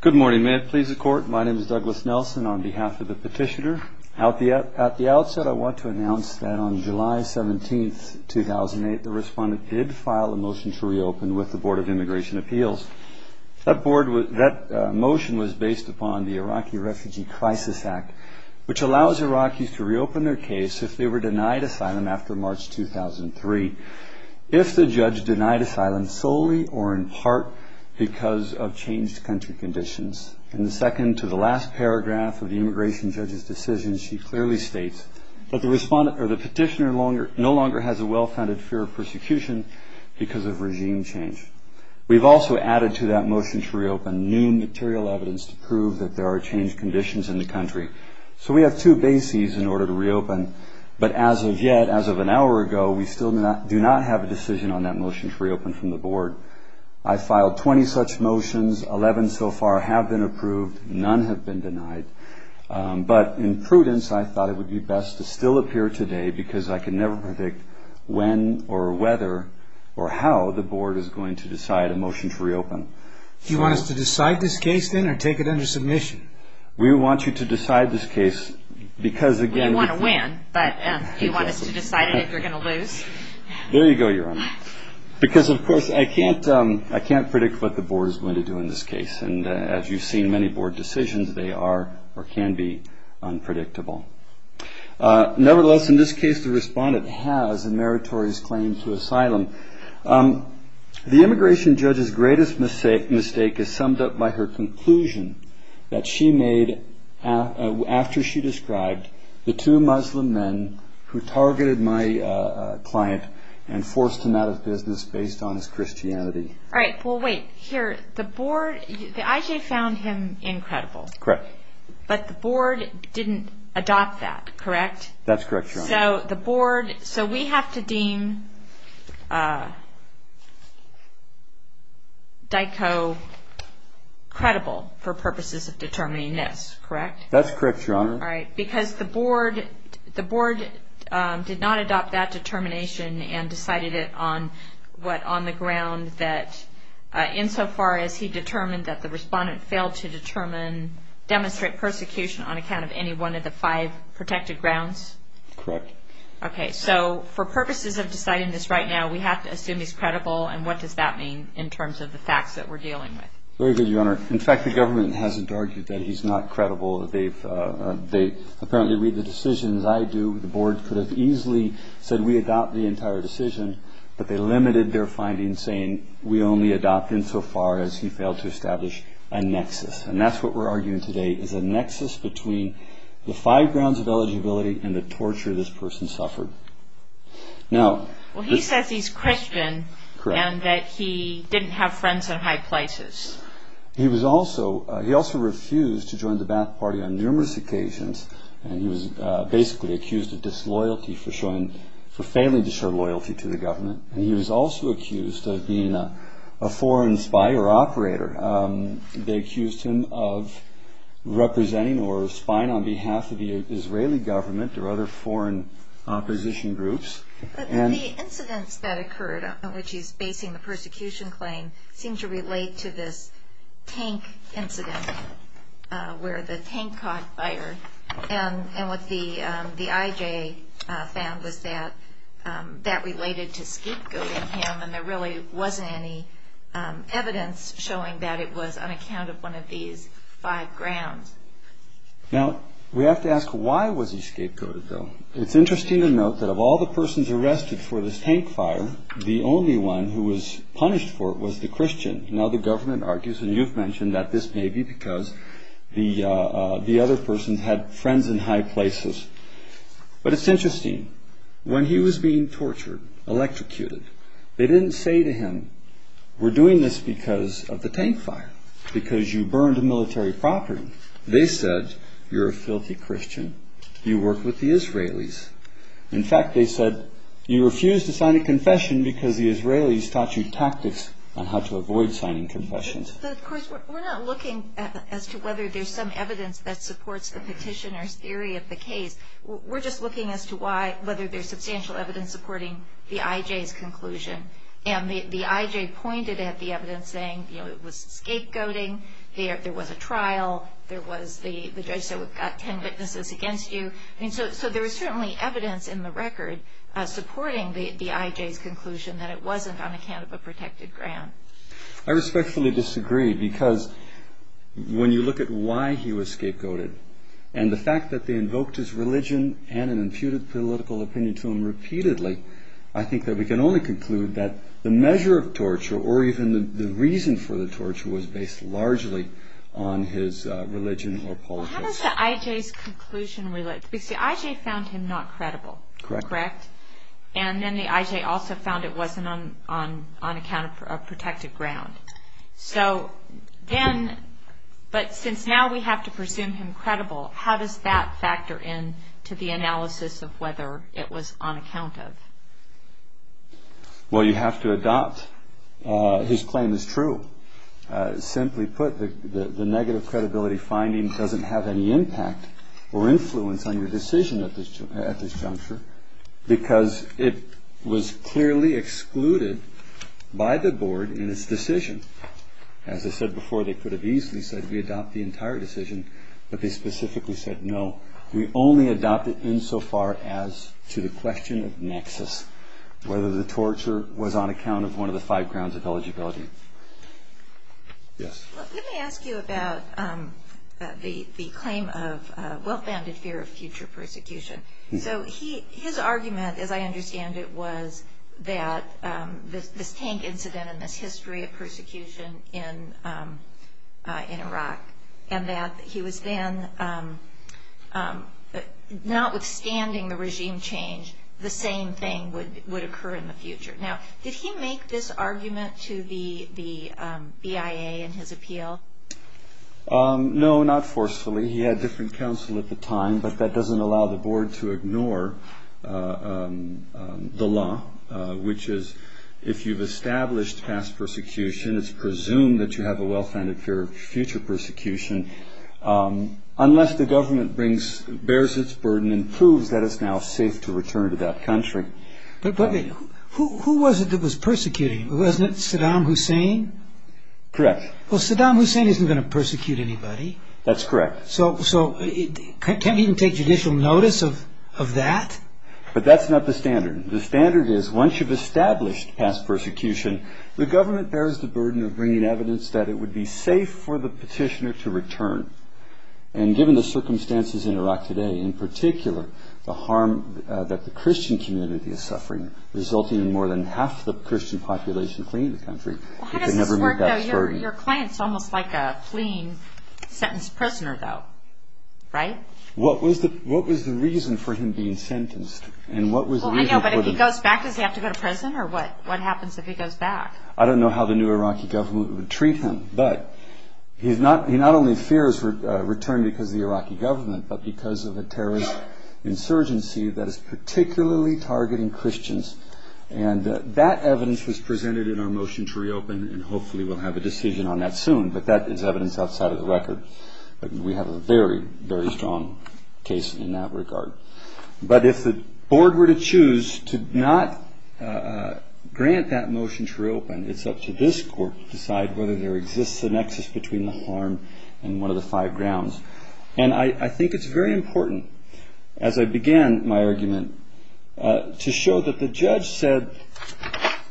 Good morning. May it please the Court, my name is Douglas Nelson on behalf of the petitioner. At the outset, I want to announce that on July 17, 2008, the respondent did file a motion to reopen with the Board of Immigration Appeals. That motion was based upon the Iraqi Refugee Crisis Act, which allows Iraqis to reopen their case if they were denied asylum after March 2003. If the judge denied asylum solely or in part because of changed country conditions. In the second to the last paragraph of the immigration judge's decision, she clearly states that the petitioner no longer has a well-founded fear of persecution because of regime change. We've also added to that motion to reopen new material evidence to prove that there are changed conditions in the country. So we have two bases in order to reopen, but as of yet, as of an hour ago, we still do not have a decision on that motion to reopen from the Board. I filed 20 such motions, 11 so far have been approved, none have been denied. But in prudence, I thought it would be best to still appear today because I can never predict when or whether or how the Board is going to decide a motion to reopen. Do you want us to decide this case then or take it under submission? We want you to decide this case because again... We want to win, but do you want us to decide it if you're going to lose? There you go, Your Honor. Because of course, I can't predict what the Board is going to do in this case. And as you've seen many Board decisions, they are or can be unpredictable. Nevertheless, in this case, the respondent has a meritorious claim to asylum. The immigration judge's greatest mistake is summed up by her conclusion that she made after she described the two Muslim men who targeted my client and forced him out of business based on his Christianity. All right, well wait, here, the Board, the IJ found him incredible. Correct. But the Board didn't adopt that, correct? That's correct, Your Honor. So we have to deem Dyko credible for purposes of determining this, correct? That's correct, Your Honor. All right, because the Board did not adopt that determination and decided it on what on the ground that insofar as he determined that the respondent failed to determine, demonstrate persecution on account of any one of the five protected grounds? Correct. Okay, so for purposes of deciding this right now, we have to assume he's credible. And what does that mean in terms of the facts that we're dealing with? Very good, Your Honor. In fact, the government hasn't argued that he's not credible. They apparently read the decisions I do. The Board could have easily said we adopt the entire decision. But they limited their findings, saying we only adopt insofar as he failed to establish a nexus. And that's what we're arguing today is a nexus between the five grounds of eligibility and the torture this person suffered. Well, he says he's Christian and that he didn't have friends in high places. He also refused to join the Ba'ath Party on numerous occasions. And he was basically accused of disloyalty for failing to show loyalty to the government. And he was also accused of being a foreign spy or operator. They accused him of representing or spying on behalf of the Israeli government or other foreign opposition groups. But the incidents that occurred in which he's basing the persecution claim seem to relate to this tank incident where the tank caught fire. And what the IJ found was that that related to scapegoating him. And there really wasn't any evidence showing that it was on account of one of these five grounds. Now, we have to ask, why was he scapegoated, though? It's interesting to note that of all the persons arrested for this tank fire, the only one who was punished for it was the Christian. Now, the government argues, and you've mentioned that this may be because the other person had friends in high places. But it's interesting. When he was being tortured, electrocuted, they didn't say to him, we're doing this because of the tank fire, because you burned a military property. They said, you're a filthy Christian. You work with the Israelis. In fact, they said, you refuse to sign a confession because the Israelis taught you tactics on how to avoid signing confessions. But, of course, we're not looking as to whether there's some evidence that supports the petitioner's theory of the case. We're just looking as to why, whether there's substantial evidence supporting the IJ's conclusion. And the IJ pointed at the evidence, saying, you know, it was scapegoating. There was a trial. The judge said, we've got ten witnesses against you. So there was certainly evidence in the record supporting the IJ's conclusion that it wasn't on account of a protected grant. I respectfully disagree, because when you look at why he was scapegoated, and the fact that they invoked his religion and an imputed political opinion to him repeatedly, I think that we can only conclude that the measure of torture, or even the reason for the torture, was based largely on his religion or politics. How is the IJ's conclusion related? Because the IJ found him not credible. Correct. Correct? And then the IJ also found it wasn't on account of a protected grant. So then, but since now we have to presume him credible, how does that factor in to the analysis of whether it was on account of? Well, you have to adopt his claim as true. Simply put, the negative credibility finding doesn't have any impact or influence on your decision at this juncture, because it was clearly excluded by the board in its decision. As I said before, they could have easily said, we adopt the entire decision, but they specifically said, no. We only adopt it insofar as to the question of nexus, whether the torture was on account of one of the five grounds of eligibility. Yes. Let me ask you about the claim of well-founded fear of future persecution. So his argument, as I understand it, was that this tank incident and this history of persecution in Iraq, and that he was then, notwithstanding the regime change, the same thing would occur in the future. Now, did he make this argument to the BIA in his appeal? No, not forcefully. He had different counsel at the time, but that doesn't allow the board to ignore the law, which is, if you've established past persecution, it's presumed that you have a well-founded fear of future persecution, unless the government bears its burden and proves that it's now safe to return to that country. But who was it that was persecuting him? Wasn't it Saddam Hussein? Correct. Well, Saddam Hussein isn't going to persecute anybody. That's correct. So can't he even take judicial notice of that? But that's not the standard. The standard is, once you've established past persecution, the government bears the burden of bringing evidence that it would be safe for the petitioner to return. And given the circumstances in Iraq today, in particular, the harm that the Christian community is suffering, resulting in more than half the Christian population fleeing the country, it could never meet that burden. How does this work, though? Your client's almost like a clean, sentenced prisoner, though, right? What was the reason for him being sentenced? Well, I know, but if he goes back, does he have to go to prison? Or what happens if he goes back? I don't know how the new Iraqi government would treat him, but he not only fears return because of the Iraqi government, but because of a terrorist insurgency that is particularly targeting Christians. And that evidence was presented in our motion to reopen, and hopefully we'll have a decision on that soon. But that is evidence outside of the record. We have a very, very strong case in that regard. But if the board were to choose to not grant that motion to reopen, it's up to this court to decide whether there exists a nexus between the harm and one of the five grounds. And I think it's very important, as I began my argument, to show that the judge said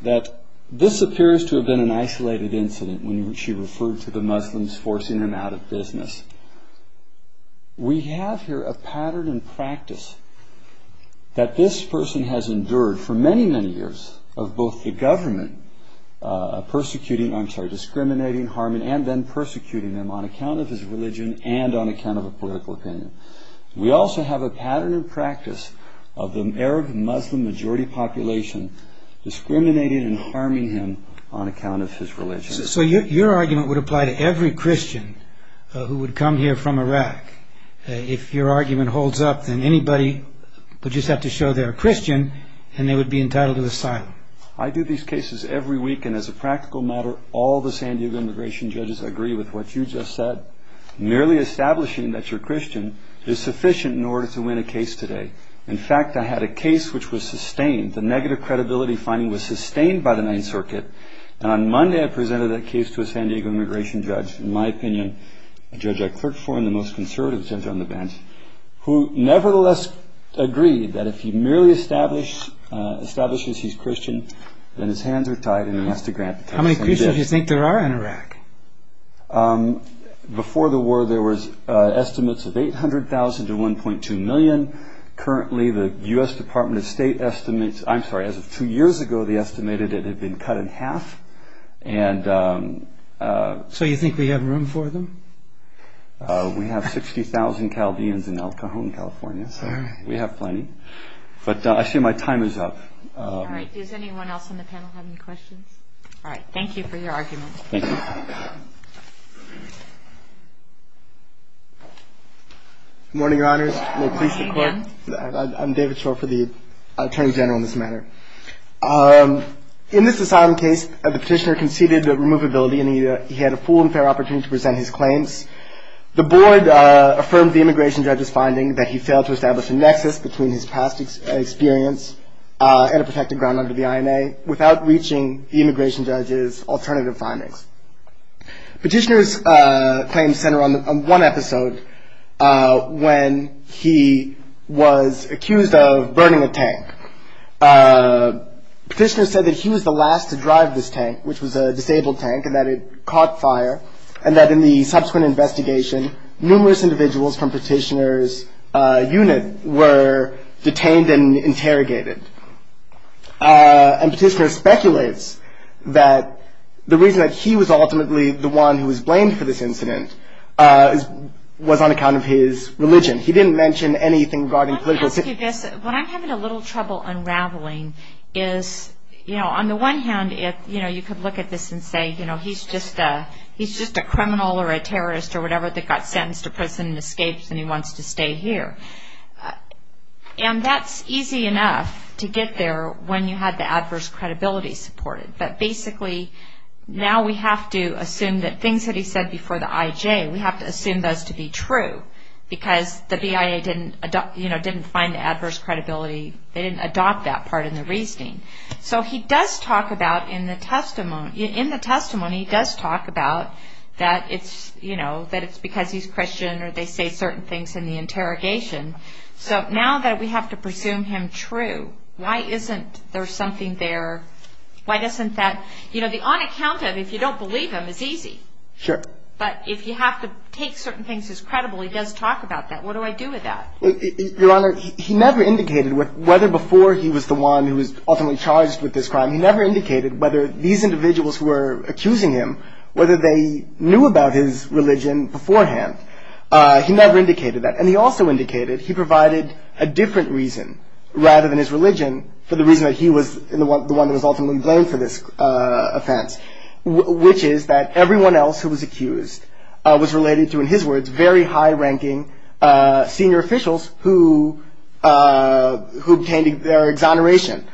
that this appears to have been an isolated incident when she referred to the Muslims forcing them out of business. We have here a pattern and practice that this person has endured for many, many years of both the government discriminating, harming, and then persecuting them on account of his religion and on account of a political opinion. We also have a pattern and practice of the Arab Muslim majority population discriminating and harming him on account of his religion. So your argument would apply to every Christian who would come here from Iraq. If your argument holds up, then anybody would just have to show they're a Christian and they would be entitled to asylum. I do these cases every week, and as a practical matter, all the San Diego immigration judges agree with what you just said. Merely establishing that you're a Christian is sufficient in order to win a case today. In fact, I had a case which was sustained. The negative credibility finding was sustained by the Ninth Circuit. On Monday, I presented that case to a San Diego immigration judge, in my opinion, a judge I clerked for in the most conservative center on the bench, who nevertheless agreed that if he merely establishes he's Christian, then his hands are tied and he has to grant asylum. How many Christians do you think there are in Iraq? Before the war, there were estimates of 800,000 to 1.2 million. Currently, the U.S. Department of State estimates, I'm sorry, as of two years ago, they estimated it had been cut in half. So you think we have room for them? We have 60,000 Calvians in El Cajon, California, so we have plenty. But I assume my time is up. All right. Does anyone else on the panel have any questions? All right. Thank you for your argument. Thank you. Good morning, Your Honors. Good morning. I'm David Shore for the Attorney General in this matter. In this asylum case, the petitioner conceded that removability and he had a full and fair opportunity to present his claims. The board affirmed the immigration judge's finding that he failed to establish a nexus between his past experience and a protected ground under the INA without reaching the immigration judge's alternative findings. Petitioner's claims center on one episode when he was accused of burning a tank. Petitioner said that he was the last to drive this tank, which was a disabled tank, and that it caught fire, and that in the subsequent investigation, numerous individuals from Petitioner's unit were detained and interrogated. And Petitioner speculates that the reason that he was ultimately the one who was blamed for this incident was on account of his religion. He didn't mention anything regarding political. Let me ask you this. What I'm having a little trouble unraveling is, you know, on the one hand, you know, you could look at this and say, you know, he's just a criminal or a terrorist or whatever that got sentenced to prison and escapes and he wants to stay here. And that's easy enough to get there when you have the adverse credibility supported. But basically, now we have to assume that things that he said before the IJ, we have to assume those to be true because the BIA didn't, you know, didn't find the adverse credibility. They didn't adopt that part in the reasoning. So he does talk about in the testimony, he does talk about that it's, you know, that it's because he's Christian or they say certain things in the interrogation. So now that we have to presume him true, why isn't there something there? Why doesn't that, you know, the on account of, if you don't believe him, is easy. Sure. But if you have to take certain things as credible, he does talk about that. What do I do with that? Your Honor, he never indicated whether before he was the one who was ultimately charged with this crime, he never indicated whether these individuals who were accusing him, whether they knew about his religion beforehand. He never indicated that. And he also indicated he provided a different reason rather than his religion for the reason that he was the one that was ultimately blamed for this offense, which is that everyone else who was accused was related to, in his words, very high-ranking senior officials who obtained their exoneration.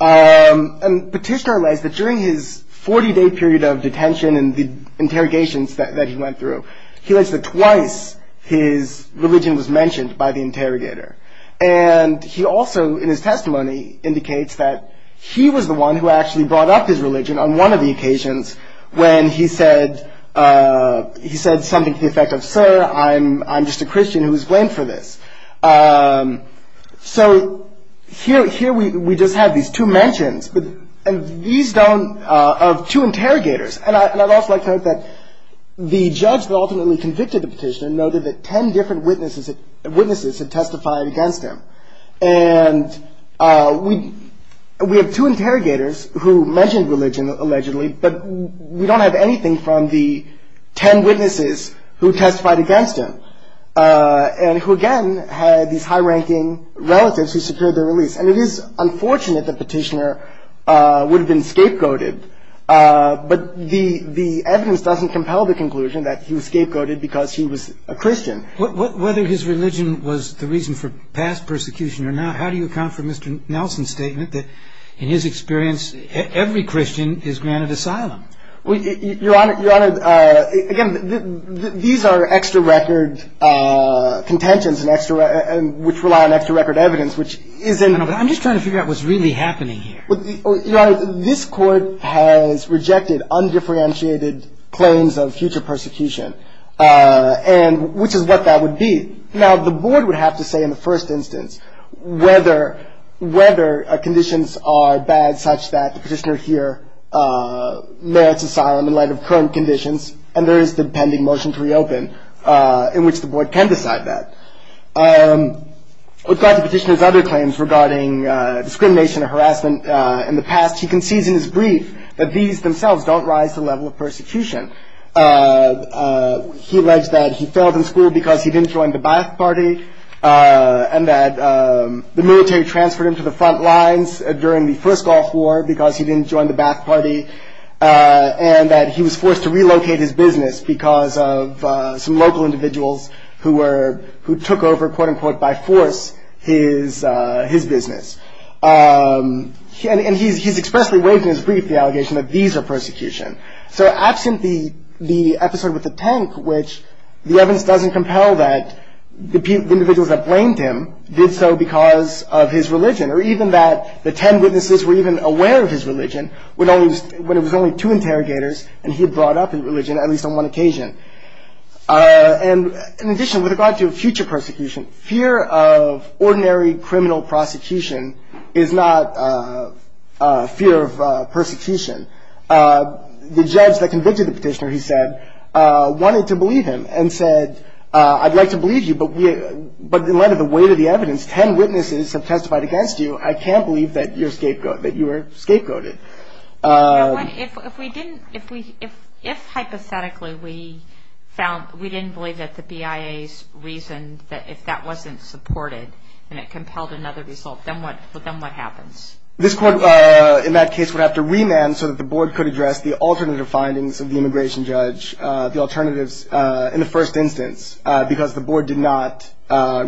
And Petitioner alleged that during his 40-day period of detention and the interrogations that he went through, he alleged that twice his religion was mentioned by the interrogator. And he also, in his testimony, indicates that he was the one who actually brought up his religion on one of the occasions when he said something to the effect of, sir, I'm just a Christian who was blamed for this. So here we just have these two mentions of two interrogators. And I'd also like to note that the judge that ultimately convicted the Petitioner noted that 10 different witnesses had testified against him. And we have two interrogators who mentioned religion allegedly, but we don't have anything from the 10 witnesses who testified against him and who, again, had these high-ranking relatives who secured their release. And it is unfortunate that Petitioner would have been scapegoated, but the evidence doesn't compel the conclusion that he was scapegoated because he was a Christian. Whether his religion was the reason for past persecution or not, how do you account for Mr. Nelson's statement that, in his experience, every Christian is granted asylum? Your Honor, again, these are extra-record contentions which rely on extra-record evidence, which isn't... I'm just trying to figure out what's really happening here. Your Honor, this Court has rejected undifferentiated claims of future persecution, which is what that would be. Now, the Board would have to say in the first instance whether conditions are bad such that the Petitioner here merits asylum in light of current conditions, and there is the pending motion to reopen in which the Board can decide that. With regard to Petitioner's other claims regarding discrimination and harassment in the past, he concedes in his brief that these themselves don't rise to the level of persecution. He alleged that he failed in school because he didn't join the Ba'ath Party and that the military transferred him to the front lines during the first Gulf War because he didn't join the Ba'ath Party and that he was forced to relocate his business because of some local individuals who took over, quote-unquote, by force, his business. And he's expressly waived in his brief the allegation that these are persecution. So absent the episode with the tank, which the evidence doesn't compel that the individuals that blamed him did so because of his religion, or even that the ten witnesses were even aware of his religion when it was only two interrogators and he had brought up his religion, at least on one occasion. And in addition, with regard to future persecution, fear of ordinary criminal prosecution is not fear of persecution. The judge that convicted the petitioner, he said, wanted to believe him and said, I'd like to believe you, but in light of the weight of the evidence, ten witnesses have testified against you. I can't believe that you were scapegoated. If hypothetically we didn't believe that the BIA's reason that if that wasn't supported and it compelled another result, then what happens? This court, in that case, would have to remand so that the board could address the alternative findings of the immigration judge, the alternatives in the first instance, because the board did not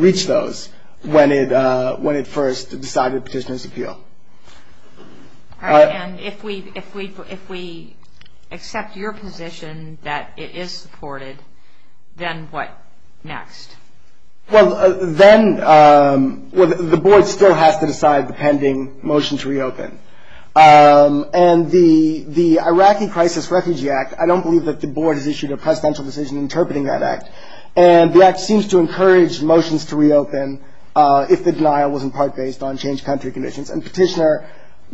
reach those when it first decided the petitioner's appeal. All right. And if we accept your position that it is supported, then what next? Well, then the board still has to decide the pending motion to reopen. And the Iraqi Crisis Refugee Act, I don't believe that the board has issued a presidential decision interpreting that act. And the act seems to encourage motions to reopen if the denial was in part based on changed country conditions. And petitioner,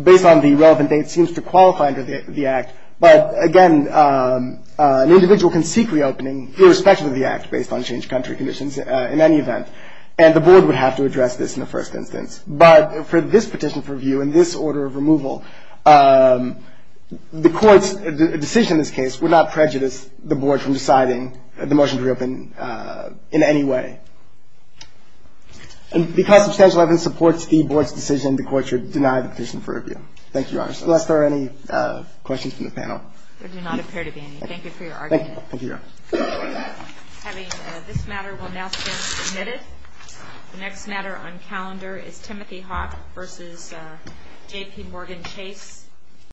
based on the relevant date, seems to qualify under the act. But, again, an individual can seek reopening irrespective of the act based on changed country conditions in any event. And the board would have to address this in the first instance. But for this petition for review and this order of removal, the court's decision in this case would not prejudice the board from deciding the motion to reopen in any way. And because substantial evidence supports the board's decision, the court should deny the petition for review. Thank you, Your Honor. Unless there are any questions from the panel. There do not appear to be any. Thank you for your argument. Thank you. Thank you, Your Honor. Having this matter will now stand submitted. The next matter on calendar is Timothy Hawk v. J.P. Morgan Chase.